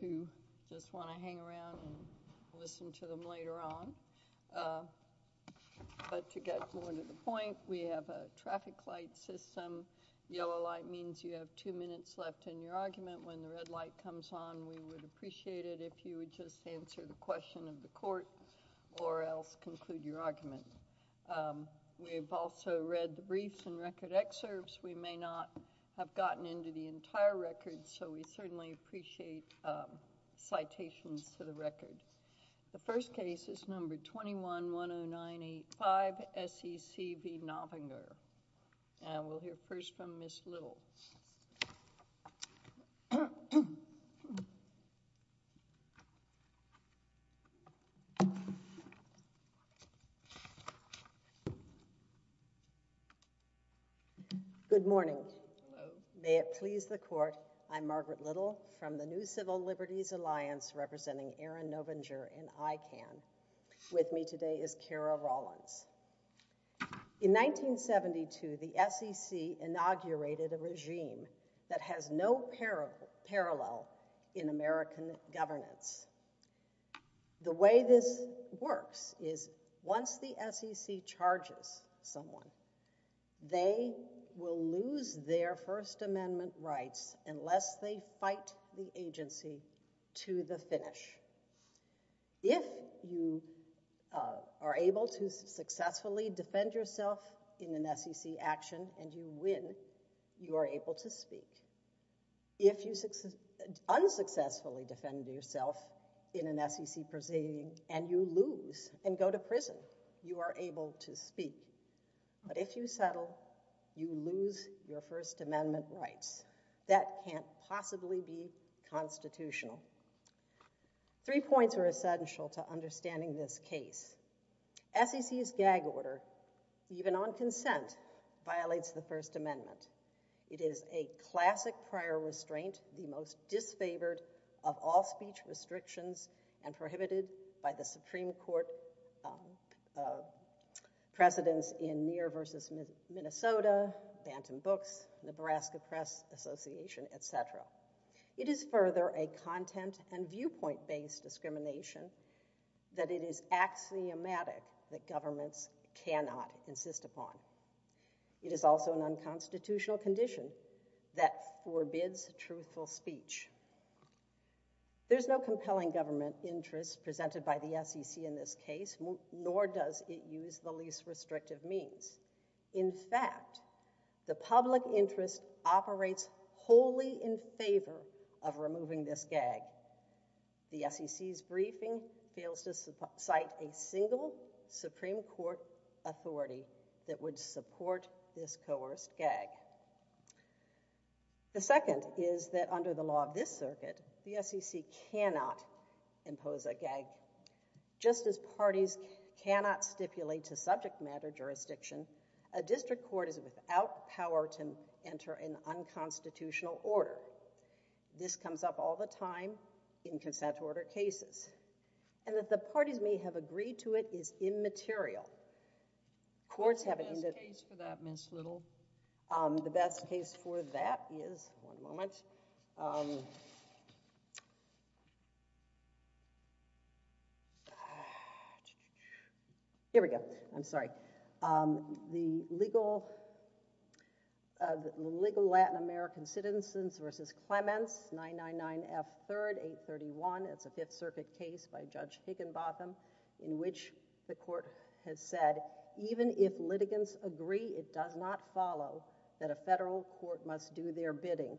who just want to hang around and listen to them later on. But to get more to the point, we have a traffic light system. Yellow light means you have two minutes left in your argument. When the red light comes on, we would appreciate it if you would just answer the question of the court or else conclude your argument. We've also read the briefs and record excerpts. We may not have gotten into the entire record, so we certainly appreciate citations to the record. The first case is number 21-10985, S.E.C. v. Novinger. And we'll hear first from Good morning. May it please the court, I'm Margaret Little from the New Civil Liberties Alliance representing Aaron Novinger and ICANN. With me today is Kara Rawlins. In 1972, the S.E.C. inaugurated a regime that has no parallel in American governance. The way this works is once the S.E.C. charges someone, they will lose their First Amendment rights unless they fight the agency to the finish. If you are able to successfully defend yourself in an S.E.C. action and you win, you are able to speak. If you unsuccessfully defend yourself in an S.E.C. proceeding and you lose and go to prison, you are able to speak. But if you settle, you lose your First Amendment rights. That can't possibly be constitutional. Three points are essential to understanding this case. S.E.C.'s gag order, even on consent, violates the First Amendment. It is a classic prior restraint, the most disfavored of all speech restrictions and prohibited by the Supreme Court precedents in Near v. Minnesota, Bantam Books, Nebraska Press Association, etc. It is further a content and viewpoint-based discrimination that it is axiomatic that governments cannot insist upon. It is also an understatement that there is no compelling government interest presented by the S.E.C. in this case, nor does it use the least restrictive means. In fact, the public interest operates wholly in favor of removing this gag. The S.E.C.'s briefing fails to cite a single Supreme Court authority that would support this coerced gag. The second is that under the law of this circuit, the S.E.C. cannot impose a gag. Just as parties cannot stipulate to subject matter jurisdiction, a district court is without power to enter an unconstitutional order. This comes up all the time in consent order cases. And that the best case for that is, one moment, here we go, I'm sorry, the legal Latin American Citizens v. Clements, 999 F. 3rd, 831, it's a Fifth Circuit case by Judge Higginbotham in which the court has said, even if litigants agree it does not follow that a federal court must do their bidding.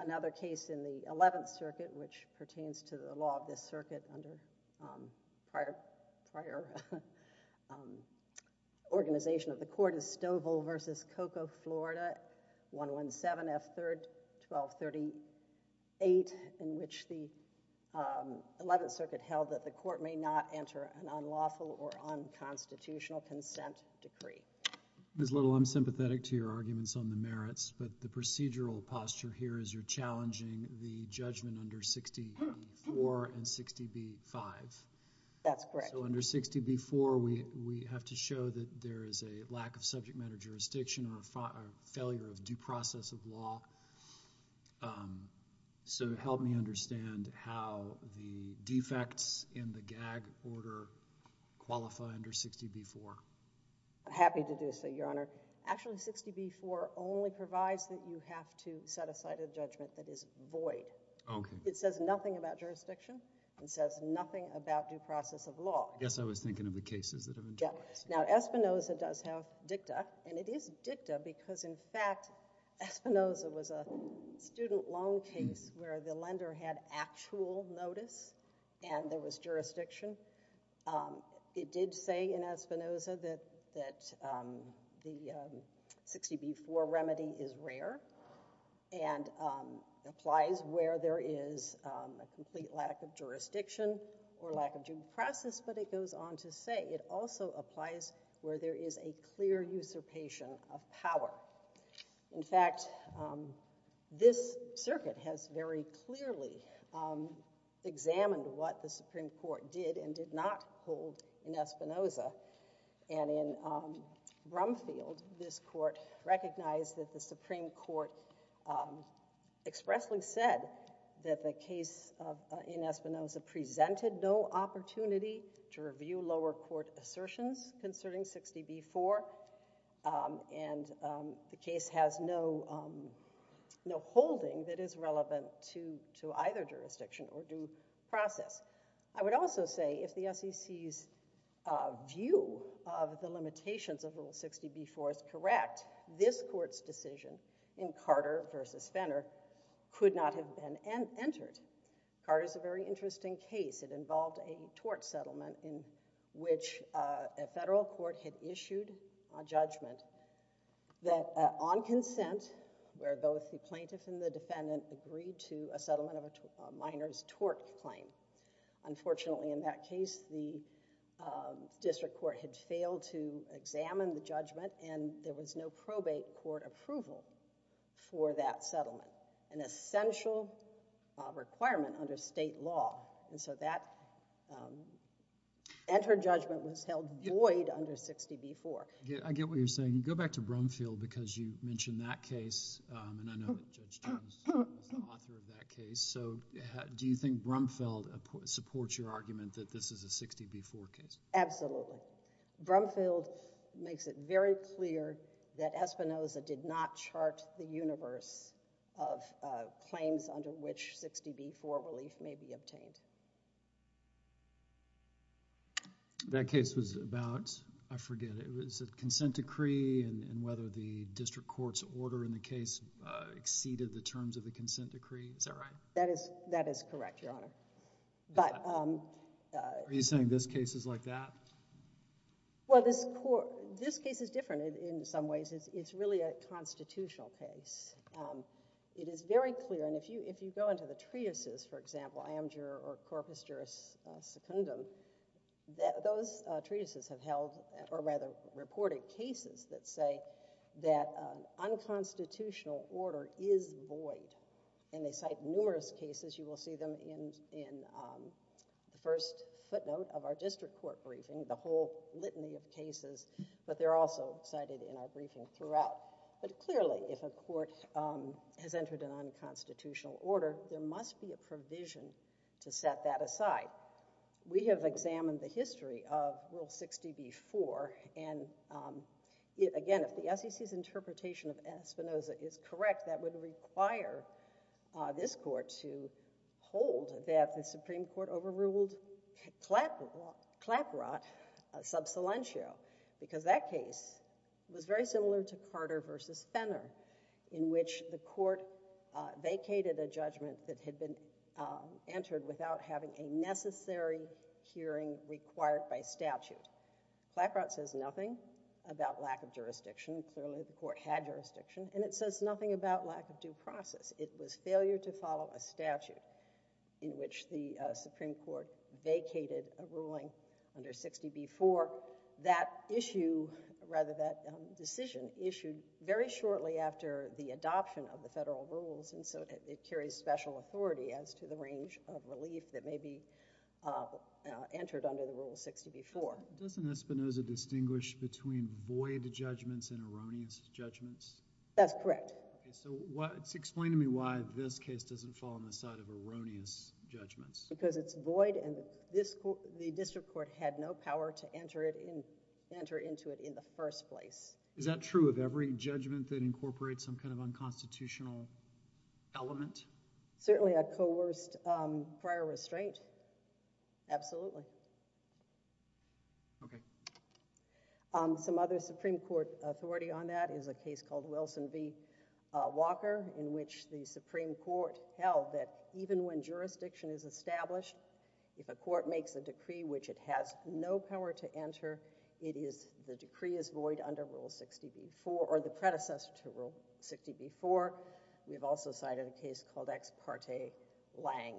Another case in the Eleventh Circuit which pertains to the law of this circuit under prior organization of the court is Stovall v. Cocoa, Florida, 117 F. 3rd, 1238, in which the Eleventh Circuit held that the court may not enter an unlawful or unconstitutional consent decree. Ms. Little, I'm sympathetic to your arguments on the merits, but the procedural posture here is you're challenging the judgment under 60B. 4 and 60B. 5. That's correct. So under 60B. 4, we have to show that there is a lack of subject matter jurisdiction or a failure of due process of law. So help me understand how the defects in the gag order qualify under 60B. 4. I'm happy to do so, Your Honor. Actually, 60B. 4 only provides that you have to set aside a judgment that is void. Okay. It says nothing about jurisdiction. It says nothing about due process of law. I guess I was thinking Now, Espinoza does have dicta, and it is dicta because, in fact, Espinoza was a student loan case where the lender had actual notice and there was jurisdiction. It did say in Espinoza that the 60B. 4 remedy is rare and applies where there is a complete lack of jurisdiction or lack of due process, but it goes on to say it also applies where there is a clear usurpation of power. In fact, this circuit has very clearly examined what the Supreme Court did and did not hold in Espinoza, and in Brumfield, this court recognized that the Supreme Court presented no opportunity to review lower court assertions concerning 60B. 4, and the case has no holding that is relevant to either jurisdiction or due process. I would also say if the SEC's view of the limitations of Rule 60B. 4 is correct, this court's decision in Carter v. Fenner could not have been entered. Carter's a very interesting case. It involved a tort settlement in which a federal court had issued a judgment on consent where both the plaintiff and the defendant agreed to a settlement of a minor's tort claim. Unfortunately, in that case, the district court had failed to examine the judgment, and there was no probate court approval for that settlement, an essential requirement under state law, and so that entered judgment was held void under 60B. 4. I get what you're saying. You go back to Brumfield because you mentioned that case, and I know that Judge Jones was the author of that case, so do you think Brumfield supports your argument that this is a 60B. 4 case? Absolutely. Brumfield makes it very clear that Espinoza did not chart the universe of claims under which 60B. 4 relief may be obtained. That case was about, I forget, it was a consent decree and whether the district court's order in the case exceeded the terms of the consent decree. Is that right? That is correct, Your Honor. Are you saying this case is like that? Well, this case is different in some ways. It's really a constitutional case. It is very clear, and if you go into the treatises, for example, Amgur or Corpus Juris Secundum, those treatises have held, or rather reported, cases that say that unconstitutional order is void, and they cite numerous cases. You will see them in the first footnote of our district court briefing, the whole litany of cases, but they're also cited in our briefing throughout. But clearly, if a court has entered an unconstitutional order, there must be a provision to set that aside. We have examined the history of Rule 60B. 4, and again, if the SEC's interpretation of Espinoza is correct, that would require this court to hold that the Supreme Court overruled Clapperot sub silentio, because that case was very similar to Carter v. Fenner, in which the court vacated a judgment that had been entered without having a necessary hearing required by statute. Clapperot says nothing about lack of jurisdiction. Clearly, the court had jurisdiction, and it says nothing about lack of due process. It was failure to follow a statute in which the Supreme Court vacated a ruling under 60B. 4. That issue, rather that decision, issued very shortly after the adoption of the federal rules, and so it carries special authority as to the range of relief that may be entered under the Rule 60B. 4. Doesn't Espinoza distinguish between void judgments and erroneous judgments? That's correct. Explain to me why this case doesn't fall on the side of erroneous judgments. Because it's void, and the district court had no power to enter into it in the first place. Is that true of every judgment that incorporates some kind of unconstitutional element? Certainly a coerced prior restraint. Absolutely. Okay. Some other Supreme Court authority on that is a case called Wilson v. Walker, in which the Supreme Court held that even when jurisdiction is established, if a court makes a decree which it has no power to enter, the decree is void under Rule 60B. 4, or the predecessor to Rule 60B. 4. We've also cited a case called Ex Parte Lang.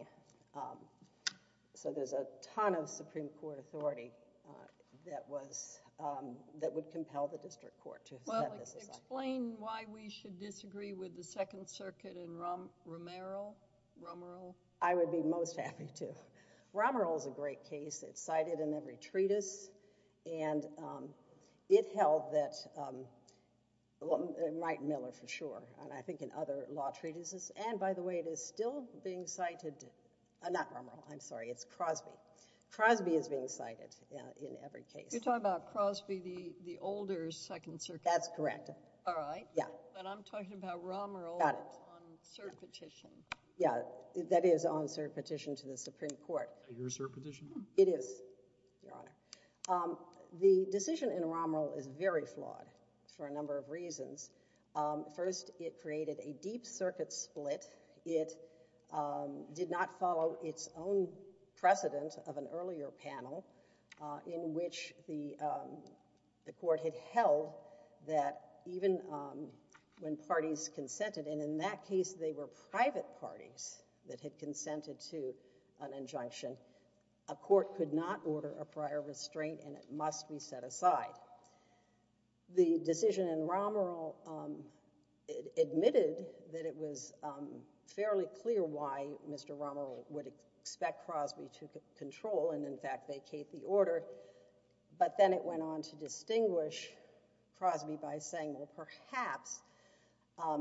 So there's a ton of Supreme Court authority that would compel the district court to accept this. Explain why we should disagree with the Second Circuit and Romero. I would be most happy to. Romero is a great case. It's cited in every treatise. It held that, well, in Mike Miller for sure, and I think in other law treatises, and by the way, it is still being cited, not Romero, I'm sorry, it's Crosby. Crosby is being cited in every case. You're talking about Crosby, the older Second Circuit? That's correct. All right. But I'm talking about Romero on cert petition. Yeah, that is on cert petition to the Supreme Court. Your cert petition? It is, Your Honor. The decision in Romero is very flawed for a number of reasons. First, it created a deep circuit split. It did not follow its own precedent of an earlier panel in which the court had held that even when parties consented, and in that case they were private parties that had consented to an injunction, a court could not order a prior restraint and it must be set aside. The decision in Romero admitted that it was fairly clear why Mr. Romero would expect Crosby to control and, in fact, vacate the order, but then it went on to distinguish Crosby by saying, well, perhaps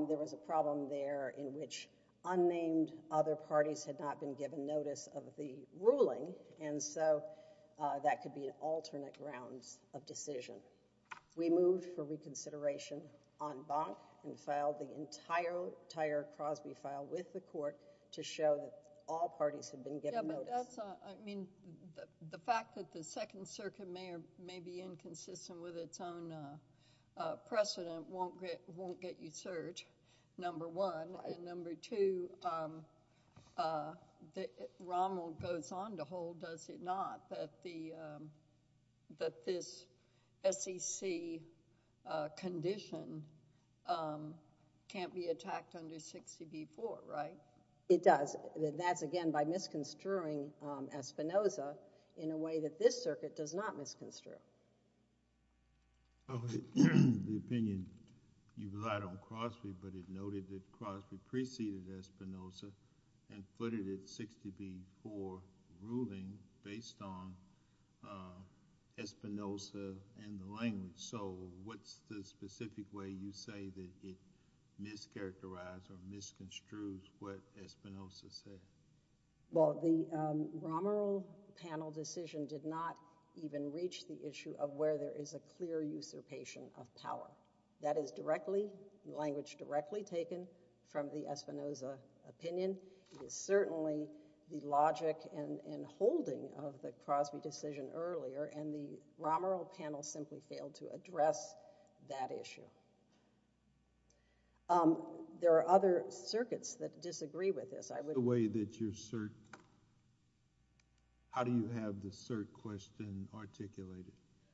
there was a problem there in which unnamed other parties had not been given notice of the ruling, and so that could be an alternate grounds of decision. We moved for reconsideration en banc and filed the entire Crosby file with the court to show that all parties had been given notice. The fact that the Second Circuit may be inconsistent with its own precedent won't get you cert, number one. Number two, Romero goes on to hold, does it not, that this SEC condition can't be attacked under 60B-4, right? It does. That's, again, by misconstruing Espinoza in a way that this circuit does not misconstrue. The opinion, you relied on Crosby, but it noted that Crosby preceded Espinoza and footed it 60B-4 ruling based on Espinoza and the language. So what's the specific way you say that it mischaracterized or misconstrues what Espinoza said? Well, the Romero panel decision did not even reach the issue of where there is a clear usurpation of power. That is directly, language directly taken from the Espinoza opinion. It is certainly the logic and holding of the Crosby decision earlier, and the Romero panel simply failed to address that issue. There are other circuits that disagree with this. The way that your cert, how do you have the cert question articulated?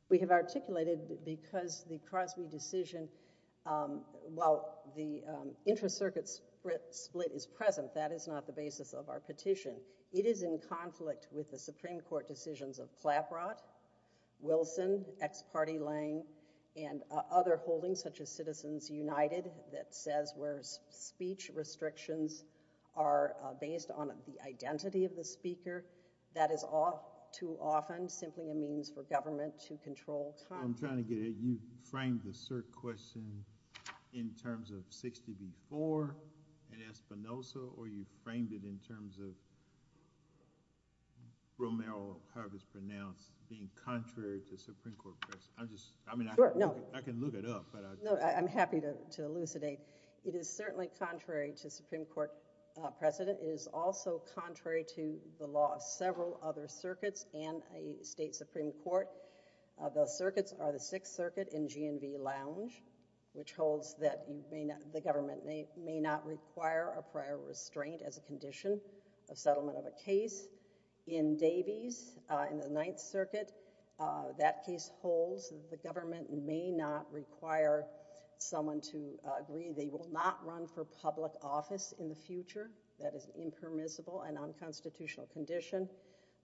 We have articulated because the Crosby decision, while the intra-circuit split is present, that is not the basis of our petition. It is in conflict with the Supreme Court decisions of Clapprott, Wilson, ex-party Lang, and other holdings such as Citizens United that says where speech restrictions are based on the identity of the speaker. That is all too often simply a means for government to control Congress. I'm trying to get at, you framed the cert question in terms of 60B-4 and Espinoza, or you framed it in terms of Romero, however it's pronounced, being contrary to Supreme Court precedent. I'm just, I mean, I can look it up. No, I'm happy to elucidate. It is certainly contrary to Supreme Court precedent. It is also contrary to the law of several other circuits and a state Supreme Court. The circuits are the Sixth Circuit in G&V Lounge, which holds that the government may not require a prior restraint as a condition of settlement of a case. In Davies, in the Ninth Circuit, that case holds that the government may not require someone to agree they will not run for public office in the future. That is an impermissible and unconstitutional condition.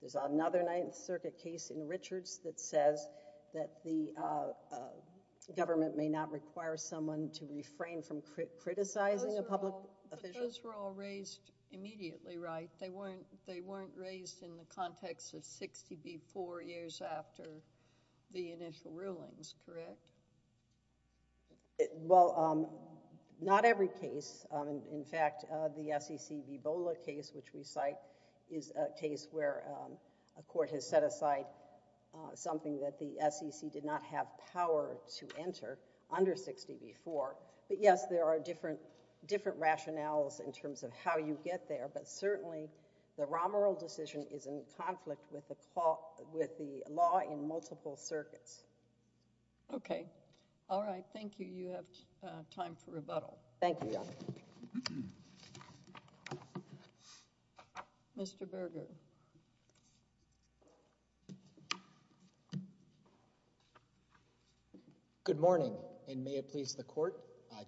There's another Ninth Circuit case in Richards that says that the government may not require someone to refrain from criticizing a public official. Those were all raised immediately, right? They weren't raised in the context of 60B-4 years after the initial rulings, correct? Well, not every case. In fact, the SEC-Vibola case, which we cite, is a case where a court has set aside something that the SEC did not have power to enter under 60B-4. But yes, there are different rationales in terms of how you get there, but certainly the Romero decision is in conflict with the law in multiple circuits. Okay. All right, thank you. You have time for rebuttal. Thank you, Your Honor. Mr. Berger. Good morning, and may it please the Court,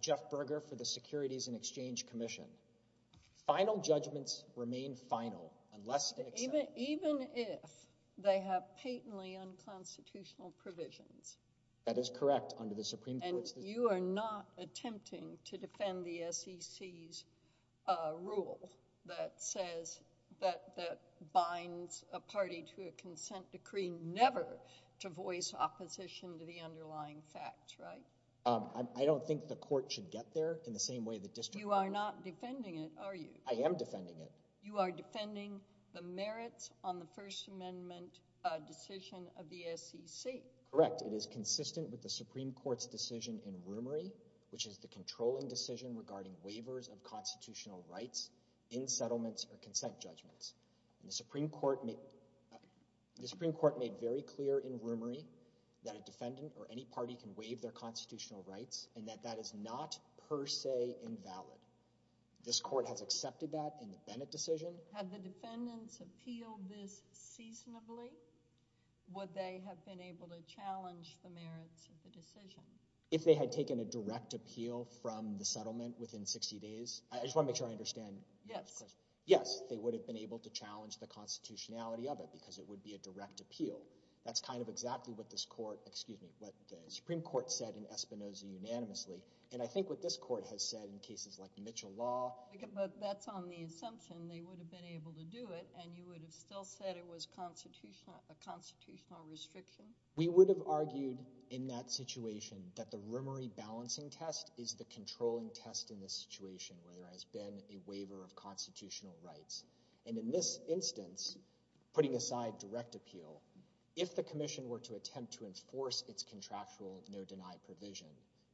Jeff Berger for the Securities and Exchange Commission. Final judgments remain final unless they— That is correct. And you are not attempting to defend the SEC's rule that says—that binds a party to a consent decree never to voice opposition to the underlying facts, right? I don't think the court should get there in the same way the district court— You are not defending it, are you? I am defending it. You are defending the merits on the First Amendment decision of the SEC. Correct. It is consistent with the Supreme Court's decision in Rumery, which is the controlling decision regarding waivers of constitutional rights in settlements or consent judgments. The Supreme Court made very clear in Rumery that a defendant or any party can waive their constitutional rights and that that is not per se invalid. This court has accepted that in the Bennett decision. Had the defendants appealed this seasonably, would they have been able to challenge the merits of the decision? If they had taken a direct appeal from the settlement within 60 days—I just want to make sure I understand this question. Yes. Yes, they would have been able to challenge the constitutionality of it because it would be a direct appeal. That's kind of exactly what this court—excuse me, what the Supreme Court said in Espinoza unanimously. And I think what this court has said in cases like Mitchell Law— But that's on the assumption they would have been able to do it, and you would have still said it was a constitutional restriction? We would have argued in that situation that the Rumery balancing test is the controlling test in this situation where there has been a waiver of constitutional rights. And in this instance, putting aside direct appeal, if the commission were to attempt to enforce its contractual no-deny provision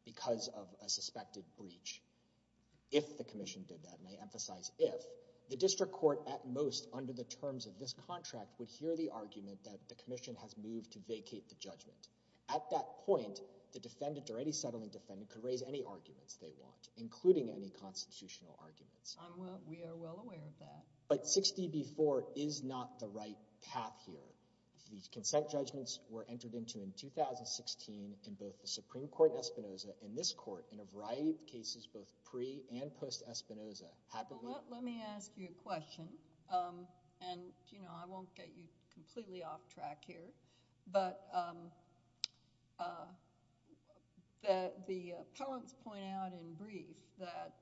because of a suspected breach—if the commission did that, and I emphasize if— the district court at most under the terms of this contract would hear the argument that the commission has moved to vacate the judgment. At that point, the defendant or any settling defendant could raise any arguments they want, including any constitutional arguments. We are well aware of that. But 6db4 is not the right path here. The consent judgments were entered into in 2016 in both the Supreme Court in Espinoza and this court in a variety of cases both pre- and post-Espinoza. Let me ask you a question, and I won't get you completely off track here. But the appellants point out in brief that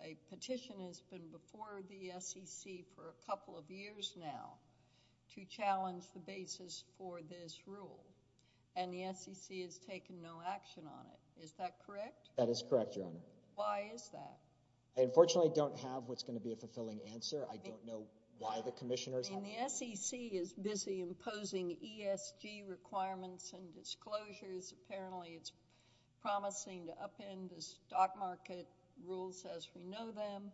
a petition has been before the SEC for a couple of years now to challenge the basis for this rule, and the SEC has taken no action on it. Is that correct? That is correct, Your Honor. Why is that? I unfortunately don't have what's going to be a fulfilling answer. I don't know why the commissioners— I mean, the SEC is busy imposing ESG requirements and disclosures. Apparently, it's promising to upend the stock market rules as we know them.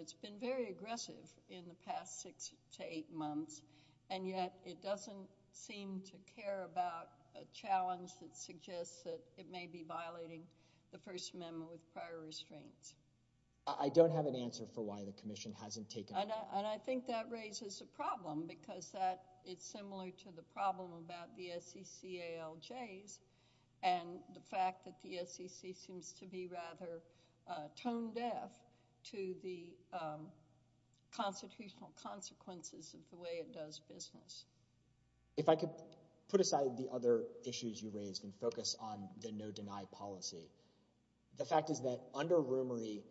It's been very aggressive in the past six to eight months, and yet it doesn't seem to care about a challenge that suggests that it may be violating the First Amendment with prior restraints. I don't have an answer for why the commission hasn't taken action. And I think that raises a problem because it's similar to the problem about the SEC ALJs and the fact that the SEC seems to be rather tone deaf to the constitutional consequences of the way it does business. If I could put aside the other issues you raised and focus on the no-deny policy, the fact is that under Roomery,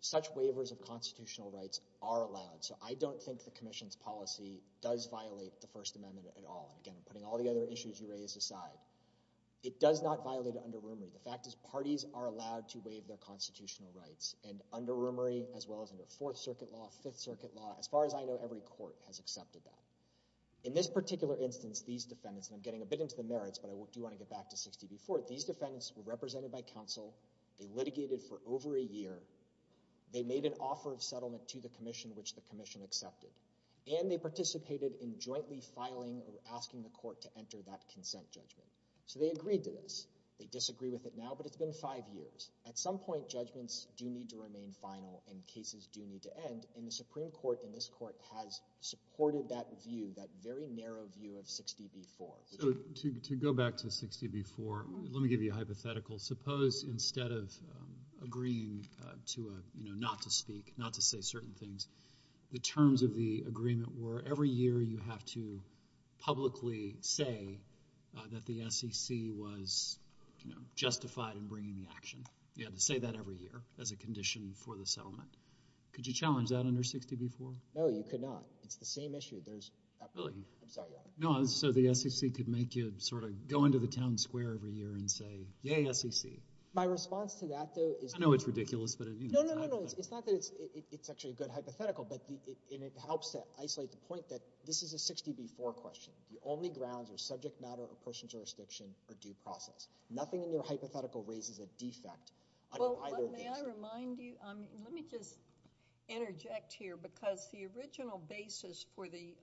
such waivers of constitutional rights are allowed. So I don't think the commission's policy does violate the First Amendment at all. And again, I'm putting all the other issues you raised aside. It does not violate it under Roomery. The fact is parties are allowed to waive their constitutional rights, and under Roomery, as well as under Fourth Circuit law, Fifth Circuit law, as far as I know, every court has accepted that. In this particular instance, these defendants—and I'm getting a bit into the merits, but I do want to get back to 60B4—these defendants were represented by counsel. They litigated for over a year. They made an offer of settlement to the commission, which the commission accepted. And they participated in jointly filing or asking the court to enter that consent judgment. So they agreed to this. They disagree with it now, but it's been five years. At some point, judgments do need to remain final and cases do need to end. And the Supreme Court in this court has supported that view, that very narrow view of 60B4. So to go back to 60B4, let me give you a hypothetical. Suppose instead of agreeing to a, you know, not to speak, not to say certain things, the terms of the agreement were every year you have to publicly say that the SEC was justified in bringing the action. You had to say that every year as a condition for the settlement. Could you challenge that under 60B4? No, you could not. It's the same issue. Really? I'm sorry, Your Honor. No, so the SEC could make you sort of go into the town square every year and say, yay, SEC. My response to that, though, is— I know it's ridiculous, but, you know— No, no, no, no. It's not that it's—it's actually a good hypothetical, but—and it helps to isolate the point that this is a 60B4 question. The only grounds are subject matter or personal jurisdiction or due process. Nothing in your hypothetical raises a defect under either— May I remind you—let me just interject here because the original basis for the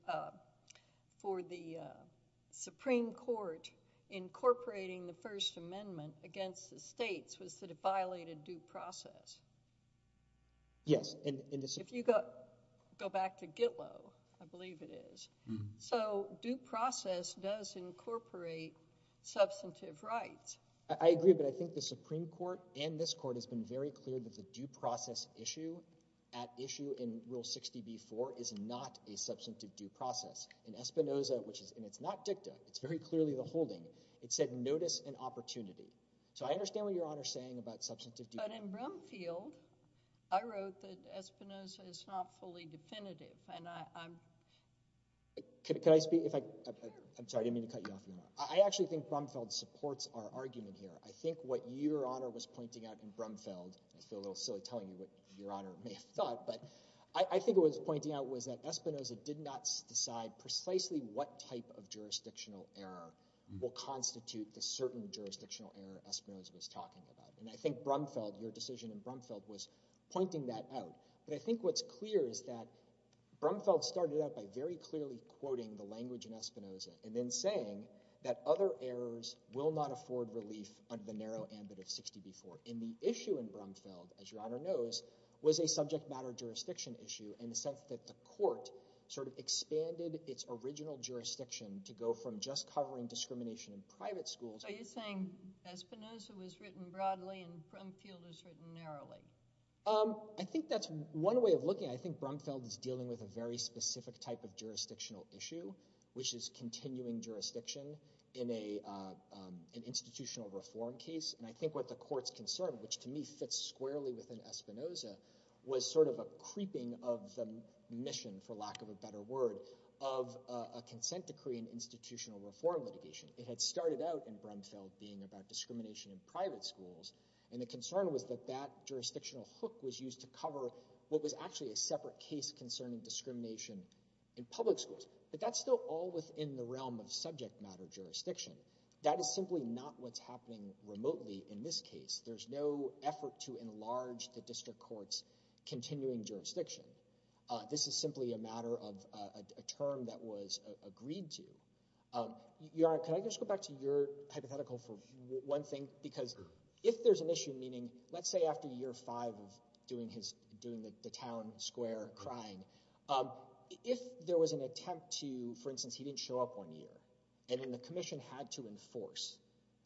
Supreme Court incorporating the First Amendment against the states was that it violated due process. Yes. If you go back to Gitlo, I believe it is. So due process does incorporate substantive rights. I agree, but I think the Supreme Court and this Court has been very clear that the due process issue at issue in Rule 60B4 is not a substantive due process. In Espinoza, which is—and it's not dicta. It's very clearly the holding. It said notice and opportunity. So I understand what Your Honor is saying about substantive due process. But in Brumfield, I wrote that Espinoza is not fully definitive, and I'm— Could I speak? I didn't mean to cut you off, Your Honor. I actually think Brumfield supports our argument here. I think what Your Honor was pointing out in Brumfield—I feel a little silly telling you what Your Honor may have thought, but I think what it was pointing out was that Espinoza did not decide precisely what type of jurisdictional error will constitute the certain jurisdictional error Espinoza was talking about. And I think Brumfield, your decision in Brumfield, was pointing that out. But I think what's clear is that Brumfield started out by very clearly quoting the language in Espinoza and then saying that other errors will not afford relief under the narrow ambit of 60B4. And the issue in Brumfield, as Your Honor knows, was a subject matter jurisdiction issue in the sense that the court sort of expanded its original jurisdiction to go from just covering discrimination in private schools— Are you saying Espinoza was written broadly and Brumfield was written narrowly? I think that's one way of looking at it. I think Brumfield is dealing with a very specific type of jurisdictional issue, which is continuing jurisdiction in an institutional reform case. And I think what the court's concern, which to me fits squarely within Espinoza, was sort of a creeping of the mission, for lack of a better word, of a consent decree in institutional reform litigation. It had started out in Brumfield being about discrimination in private schools. And the concern was that that jurisdictional hook was used to cover what was actually a separate case concerning discrimination in public schools. But that's still all within the realm of subject matter jurisdiction. That is simply not what's happening remotely in this case. There's no effort to enlarge the district court's continuing jurisdiction. This is simply a matter of a term that was agreed to. Your Honor, can I just go back to your hypothetical for one thing? Because if there's an issue—meaning, let's say after year five of doing the town square crying— if there was an attempt to—for instance, he didn't show up one year and then the commission had to enforce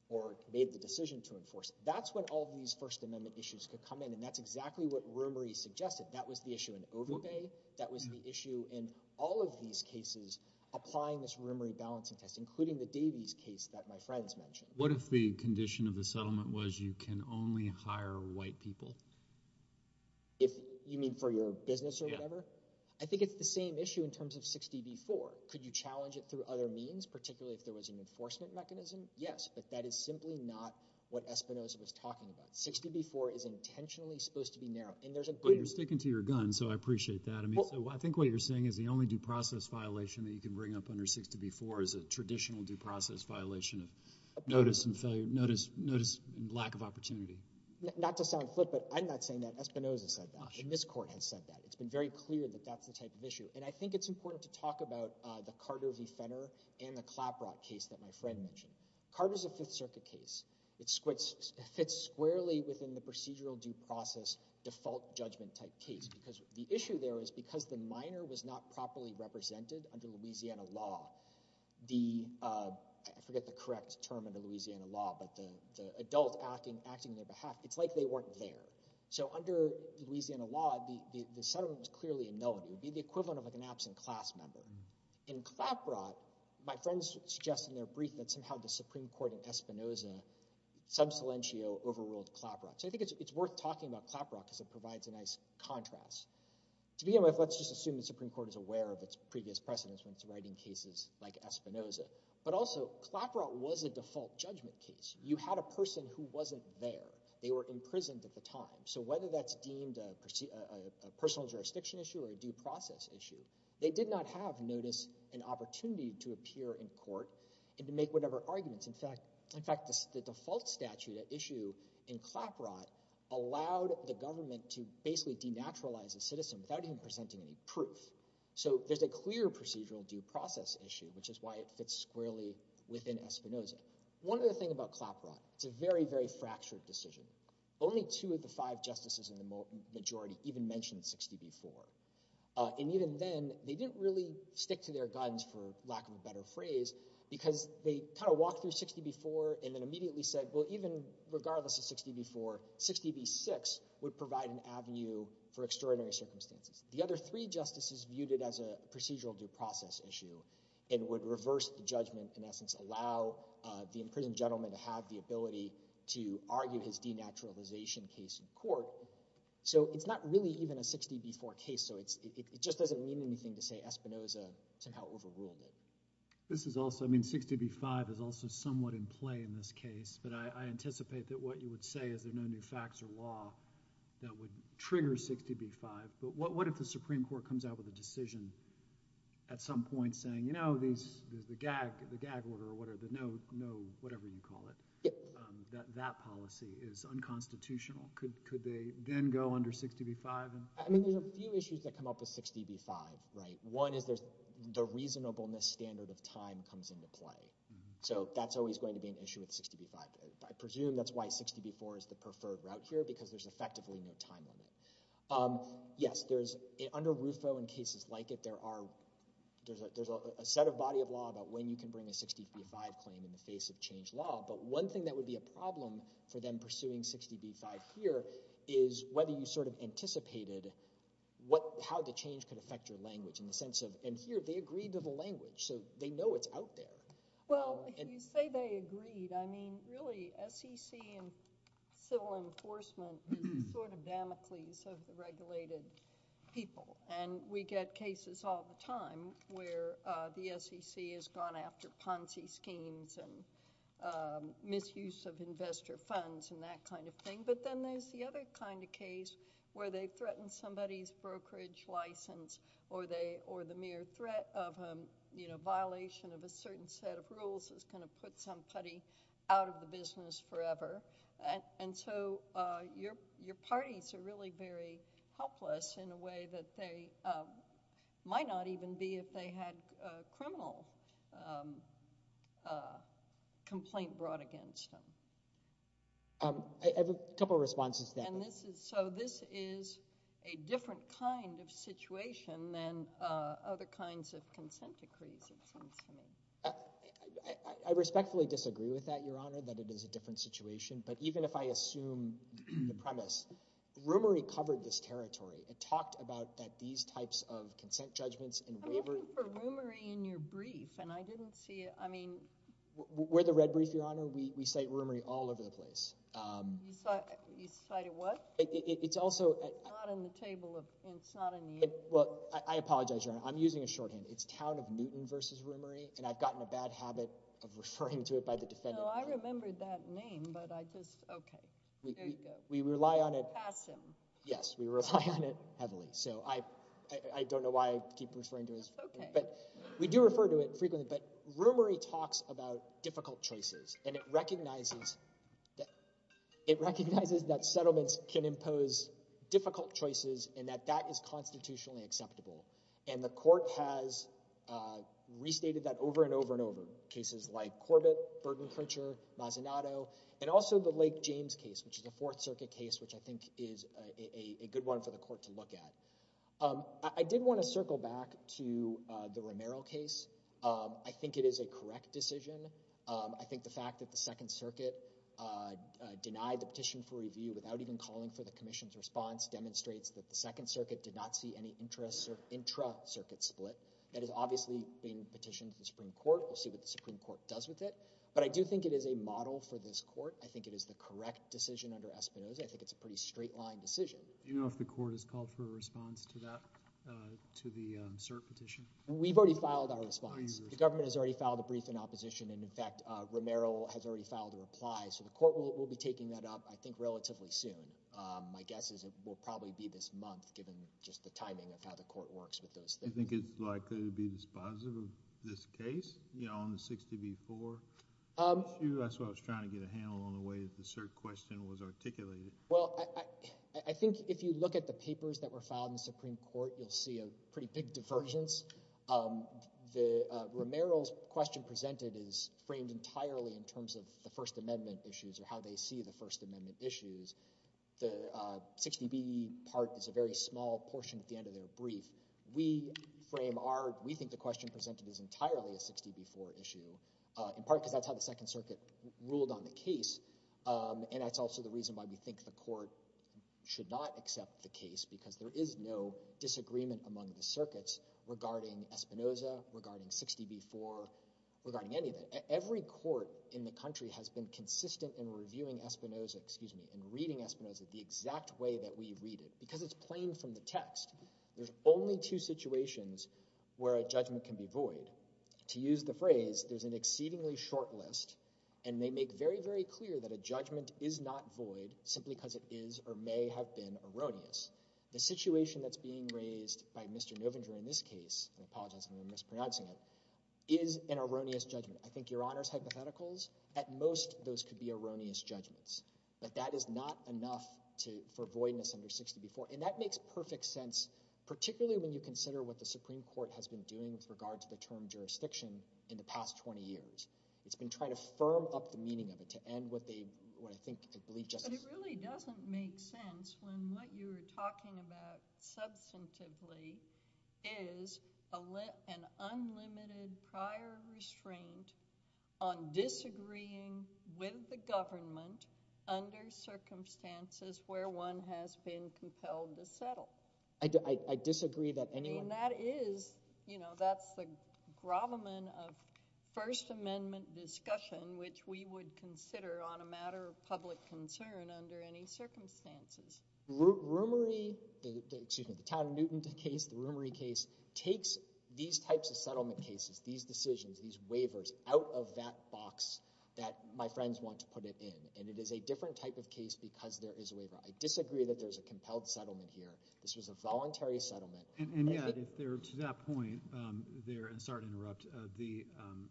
or made the decision to enforce, that's when all of these First Amendment issues could come in, and that's exactly what Roomery suggested. That was the issue in Overbay. That was the issue in all of these cases applying this Roomery balancing test, including the Davies case that my friends mentioned. What if the condition of the settlement was you can only hire white people? You mean for your business or whatever? Yeah. I think it's the same issue in terms of 60B4. Could you challenge it through other means, particularly if there was an enforcement mechanism? Yes, but that is simply not what Espinoza was talking about. 60B4 is intentionally supposed to be narrow. But you're sticking to your gun, so I appreciate that. I think what you're saying is the only due process violation that you can bring up under 60B4 is a traditional due process violation of notice and lack of opportunity. Not to sound flip, but I'm not saying that. Espinoza said that, and this court has said that. It's been very clear that that's the type of issue. And I think it's important to talk about the Carter v. Fenner and the Claprock case that my friend mentioned. Carter's a Fifth Circuit case. It fits squarely within the procedural due process default judgment type case because the issue there is because the minor was not properly represented under Louisiana law. I forget the correct term under Louisiana law, but the adult acting on their behalf. It's like they weren't there. So under Louisiana law, the settlement was clearly a no. It would be the equivalent of an absent class member. In Claprock, my friends suggest in their brief that somehow the Supreme Court in Espinoza sub salientio overruled Claprock. So I think it's worth talking about Claprock because it provides a nice contrast. To begin with, let's just assume the Supreme Court is aware of its previous precedence when it's writing cases like Espinoza. But also, Claprock was a default judgment case. You had a person who wasn't there. They were imprisoned at the time. So whether that's deemed a personal jurisdiction issue or a due process issue, they did not have notice and opportunity to appear in court and to make whatever arguments. In fact, the default statute issue in Claprock allowed the government to basically denaturalize a citizen without even presenting any proof. So there's a clear procedural due process issue, which is why it fits squarely within Espinoza. One other thing about Claprock, it's a very, very fractured decision. Only two of the five justices in the majority even mentioned 60 v. 4. And even then, they didn't really stick to their guns, for lack of a better phrase, because they kind of walked through 60 v. 4 and then immediately said, well, even regardless of 60 v. 4, 60 v. 6 would provide an avenue for extraordinary circumstances. The other three justices viewed it as a procedural due process issue and would reverse the judgment, in essence, allow the imprisoned gentleman to have the ability to argue his denaturalization case in court. So it's not really even a 60 v. 4 case, so it just doesn't mean anything to say Espinoza somehow overruled it. This is also – I mean 60 v. 5 is also somewhat in play in this case, but I anticipate that what you would say is there are no new facts or law that would trigger 60 v. 5. But what if the Supreme Court comes out with a decision at some point saying, you know, there's the gag order or whatever, the no – whatever you call it, that that policy is unconstitutional? Could they then go under 60 v. 5? I mean there's a few issues that come up with 60 v. 5. One is the reasonableness standard of time comes into play. So that's always going to be an issue with 60 v. 5. I presume that's why 60 v. 4 is the preferred route here because there's effectively no time limit. Yes, there's – under RUFO and cases like it, there are – there's a set of body of law about when you can bring a 60 v. 5 claim in the face of change law. But one thing that would be a problem for them pursuing 60 v. 5 here is whether you sort of anticipated what – how the change could affect your language in the sense of – and here they agreed to the language. So they know it's out there. Well, if you say they agreed, I mean really SEC and civil enforcement is sort of Damocles of the regulated people. And we get cases all the time where the SEC has gone after Ponzi schemes and misuse of investor funds and that kind of thing. But then there's the other kind of case where they threaten somebody's brokerage license or they – or the mere threat of a violation of a certain set of rules is going to put somebody out of the business forever. And so your parties are really very helpless in a way that they might not even be if they had a criminal complaint brought against them. I have a couple of responses to that. And this is – so this is a different kind of situation than other kinds of consent decrees, it seems to me. I respectfully disagree with that, Your Honor, that it is a different situation. But even if I assume the premise, rumory covered this territory. It talked about that these types of consent judgments and waiver – I'm looking for rumory in your brief, and I didn't see it. I mean – We're the red brief, Your Honor. We cite rumory all over the place. You cited what? It's also – It's not in the table of – it's not in the – Well, I apologize, Your Honor. I'm using a shorthand. It's Town of Newton v. Rumory, and I've gotten a bad habit of referring to it by the defendant. No, I remembered that name, but I just – okay. There you go. We rely on it – Pass him. Yes, we rely on it heavily. So I don't know why I keep referring to it. Okay. But we do refer to it frequently, but rumory talks about difficult choices, and it recognizes that settlements can impose difficult choices and that that is constitutionally acceptable. And the court has restated that over and over and over, cases like Corbett, Burden-Crensher, Mazzanato, and also the Lake James case, which is a Fourth Circuit case, which I think is a good one for the court to look at. I did want to circle back to the Romero case. I think it is a correct decision. I think the fact that the Second Circuit denied the petition for review without even calling for the commission's response demonstrates that the Second Circuit did not see any intra-circuit split. That has obviously been petitioned to the Supreme Court. We'll see what the Supreme Court does with it. But I do think it is a model for this court. I think it is the correct decision under Espinoza. I think it's a pretty straight-line decision. Do you know if the court has called for a response to the cert petition? We've already filed our response. The government has already filed a brief in opposition, and, in fact, Romero has already filed a reply. So the court will be taking that up I think relatively soon. My guess is it will probably be this month given just the timing of how the court works with those things. Do you think it's likely to be dispositive of this case on the 60 v. 4 issue? That's what I was trying to get a handle on, the way that the cert question was articulated. Well, I think if you look at the papers that were filed in the Supreme Court, you'll see a pretty big divergence. Romero's question presented is framed entirely in terms of the First Amendment issues or how they see the First Amendment issues. The 60 v. part is a very small portion at the end of their brief. We think the question presented is entirely a 60 v. 4 issue, in part because that's how the Second Circuit ruled on the case, and that's also the reason why we think the court should not accept the case because there is no disagreement among the circuits regarding Espinoza, regarding 60 v. 4, regarding any of that. Every court in the country has been consistent in reviewing Espinoza, excuse me, in reading Espinoza the exact way that we read it because it's plain from the text. There's only two situations where a judgment can be void. To use the phrase, there's an exceedingly short list, and they make very, very clear that a judgment is not void simply because it is or may have been erroneous. The situation that's being raised by Mr. Novinger in this case, and I apologize if I'm mispronouncing it, is an erroneous judgment. I think your Honor's hypotheticals, at most those could be erroneous judgments, but that is not enough for voidness under 60 v. 4, and that makes perfect sense, particularly when you consider what the Supreme Court has been doing with regard to the term jurisdiction in the past 20 years. It's been trying to firm up the meaning of it to end what they believe justice is. But it really doesn't make sense when what you're talking about substantively is an unlimited prior restraint on disagreeing with the government under circumstances where one has been compelled to settle. I disagree that anyone— And that is, you know, that's the gravamen of First Amendment discussion, which we would consider on a matter of public concern under any circumstances. The town of Newton case, the Rumerie case, takes these types of settlement cases, these decisions, these waivers, out of that box that my friends want to put it in. And it is a different type of case because there is a waiver. I disagree that there's a compelled settlement here. This was a voluntary settlement. And yet if they're to that point, and sorry to interrupt,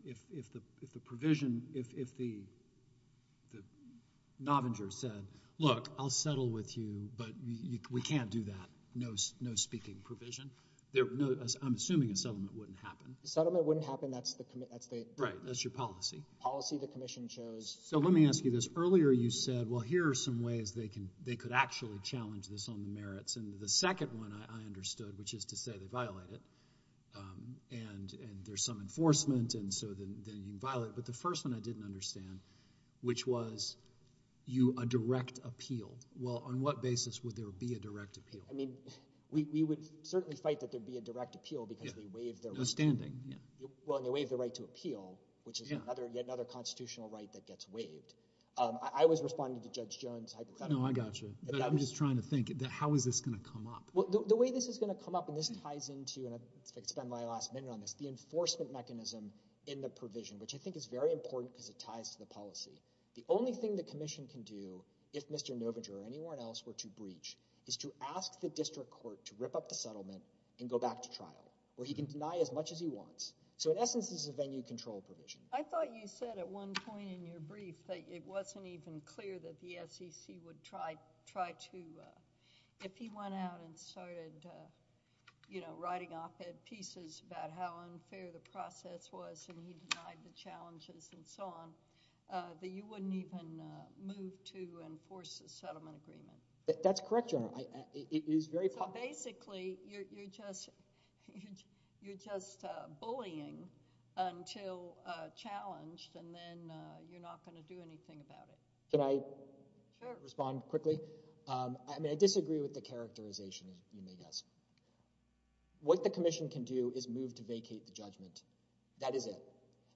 if the provision—if the Novinger said, look, I'll settle with you, but we can't do that, no speaking provision, I'm assuming a settlement wouldn't happen. A settlement wouldn't happen. That's the— Right. That's your policy. Policy the commission chose. So let me ask you this. Earlier you said, well, here are some ways they could actually challenge this on the merits, and the second one I understood, which is to say they violate it, and there's some enforcement, and so then you violate it. But the first one I didn't understand, which was you—a direct appeal. Well, on what basis would there be a direct appeal? I mean we would certainly fight that there would be a direct appeal because they waive their— No standing, yeah. Well, and they waive the right to appeal, which is yet another constitutional right that gets waived. I was responding to Judge Jones' hypothetical. No, I got you. But I'm just trying to think, how is this going to come up? Well, the way this is going to come up, and this ties into—and I spent my last minute on this— the enforcement mechanism in the provision, which I think is very important because it ties to the policy. The only thing the commission can do if Mr. Novinger or anyone else were to breach is to ask the district court to rip up the settlement and go back to trial, where he can deny as much as he wants. So in essence this is a venue control provision. I thought you said at one point in your brief that it wasn't even clear that the SEC would try to— if he went out and started, you know, writing op-ed pieces about how unfair the process was and he denied the challenges and so on, that you wouldn't even move to enforce the settlement agreement. That's correct, Your Honor. It is very— So basically you're just bullying until challenged, and then you're not going to do anything about it. Can I respond quickly? I mean, I disagree with the characterization, you may guess. What the commission can do is move to vacate the judgment. That is it.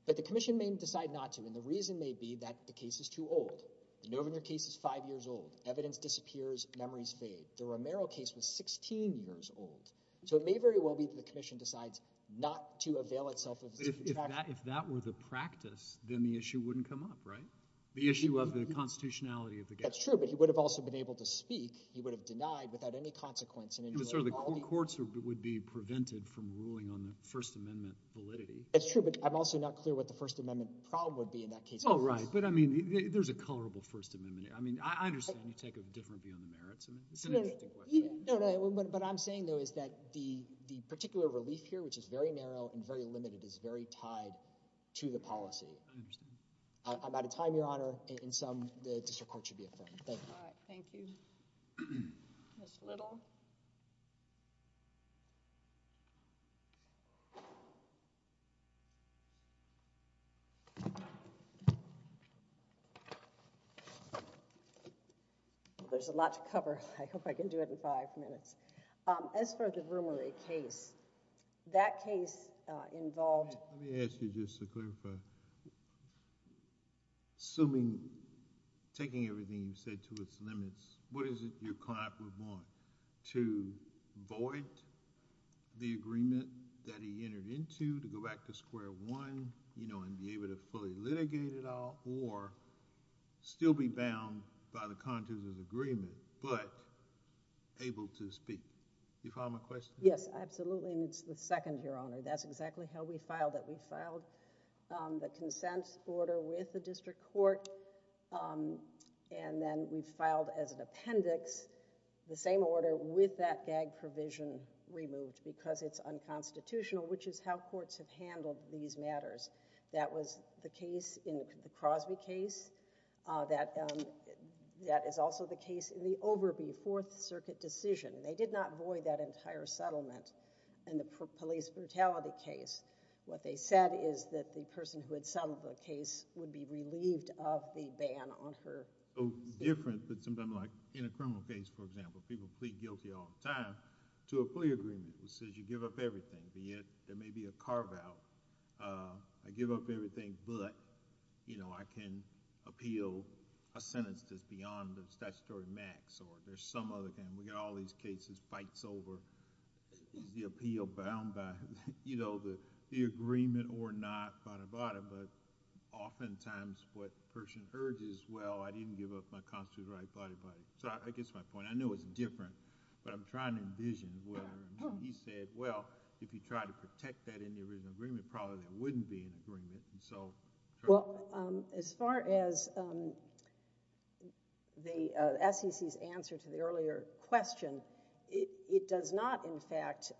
But the commission may decide not to, and the reason may be that the case is too old. The Novinger case is five years old. Evidence disappears. Memories fade. The Romero case was 16 years old. So it may very well be that the commission decides not to avail itself of— If that were the practice, then the issue wouldn't come up, right? The issue of the constitutionality of the case. That's true, but he would have also been able to speak. He would have denied without any consequence. And so the courts would be prevented from ruling on the First Amendment validity. That's true, but I'm also not clear what the First Amendment problem would be in that case. Oh, right. But I mean, there's a colorable First Amendment. I mean, I understand you take a different view on the merits. It's an interesting question. No, no. What I'm saying, though, is that the particular relief here, which is very narrow and very limited, is very tied to the policy. I understand. I'm out of time, Your Honor. In sum, the district court should be affirmed. Thank you. All right. Thank you. Ms. Little? Well, there's a lot to cover. I hope I can do it in five minutes. As far as the Vroomery case, that case involved— Let me ask you just to clarify. Assuming, taking everything you've said to its limits, what is it your client would want? To void the agreement that he entered into to go back to square one, and be able to fully litigate it all, or still be bound by the contours of the agreement but able to speak? Do you follow my question? Yes, absolutely. And it's the second, Your Honor. That's exactly how we filed it. We filed the consent order with the district court, and then we filed as an appendix the same order with that gag provision removed because it's unconstitutional, which is how courts have handled these matters. That was the case in the Crosby case. That is also the case in the Overby Fourth Circuit decision. They did not void that entire settlement in the police brutality case. What they said is that the person who had settled the case would be relieved of the ban on her... Different, but sometimes like in a criminal case, for example, people plead guilty all the time to a plea agreement which says you give up everything. There may be a carve-out. I give up everything, but I can appeal a sentence that's beyond the statutory max, or there's some other... We got all these cases, fights over, is the appeal bound by the agreement or not, but oftentimes what a person urges, well, I didn't give up my constitutional right, so I guess my point, I know it's different, but I'm trying to envision whether he said, well, if you try to protect that in the original agreement, probably there wouldn't be an agreement. As far as the SEC's answer to the earlier question, it does not, in fact,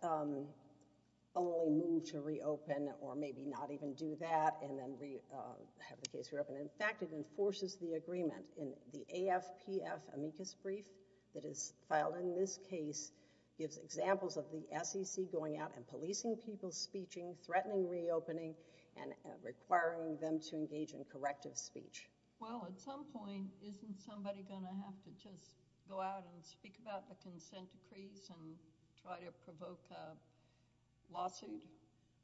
only move to reopen or maybe not even do that and then have the case reopened. In fact, it enforces the agreement in the AFPF amicus brief that is filed in this case, gives examples of the SEC going out and policing people's speeching, threatening reopening, and requiring them to engage in corrective speech. Well, at some point, isn't somebody going to have to just go out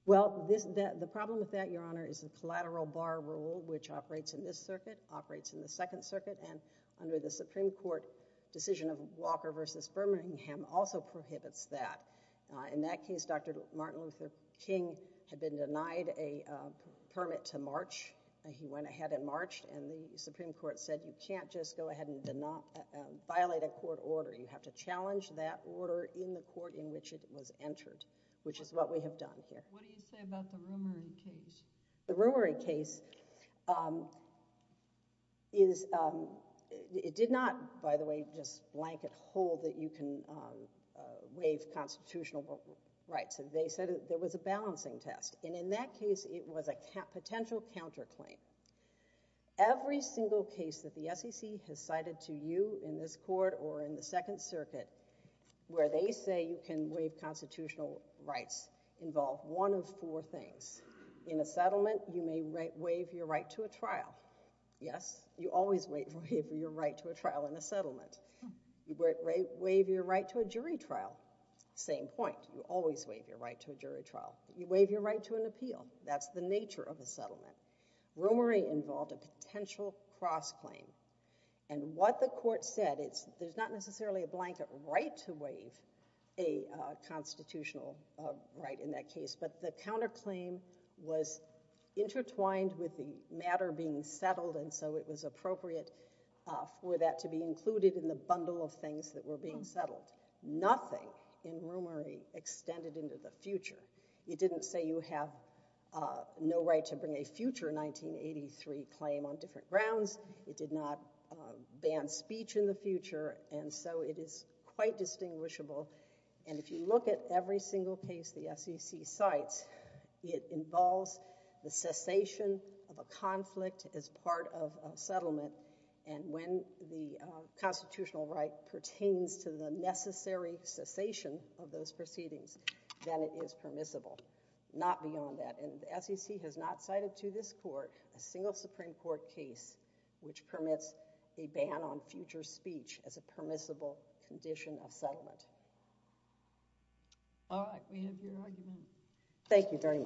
Well, the problem with that, Your Honor, is the collateral bar rule, which operates in this circuit, operates in the Second Circuit, and under the Supreme Court decision of Walker v. Birmingham also prohibits that. In that case, Dr. Martin Luther King had been denied a permit to march. He went ahead and marched, and the Supreme Court said, you can't just go ahead and violate a court order. You have to challenge that order in the court in which it was entered, which is what we have done here. What do you say about the Rumory case? The Rumory case is, it did not, by the way, just blanket hold that you can waive constitutional rights. They said there was a balancing test, and in that case, it was a potential counterclaim. Every single case that the SEC has cited to you in this court or in the Second Circuit where they say you can waive constitutional rights involve one of four things. In a settlement, you may waive your right to a trial. Yes, you always waive your right to a trial in a settlement. You waive your right to a jury trial, same point. You always waive your right to a jury trial. You waive your right to an appeal. That's the nature of a settlement. Rumory involved a potential cross-claim, and what the court said, there's not necessarily a blanket right to waive a constitutional right in that case, but the counterclaim was intertwined with the matter being settled, and so it was appropriate for that to be included in the bundle of things that were being settled. Nothing in Rumory extended into the future. It didn't say you have no right to bring a future 1983 claim on different grounds. It did not ban speech in the future, and so it is quite distinguishable, and if you look at every single case the SEC cites, it involves the cessation of a conflict as part of a settlement, and when the constitutional right pertains to the necessary cessation of those proceedings, then it is permissible, not beyond that, and the SEC has not cited to this court a single Supreme Court case which permits a ban on future speech as a permissible condition of settlement. All right. We have your argument. Thank you very much.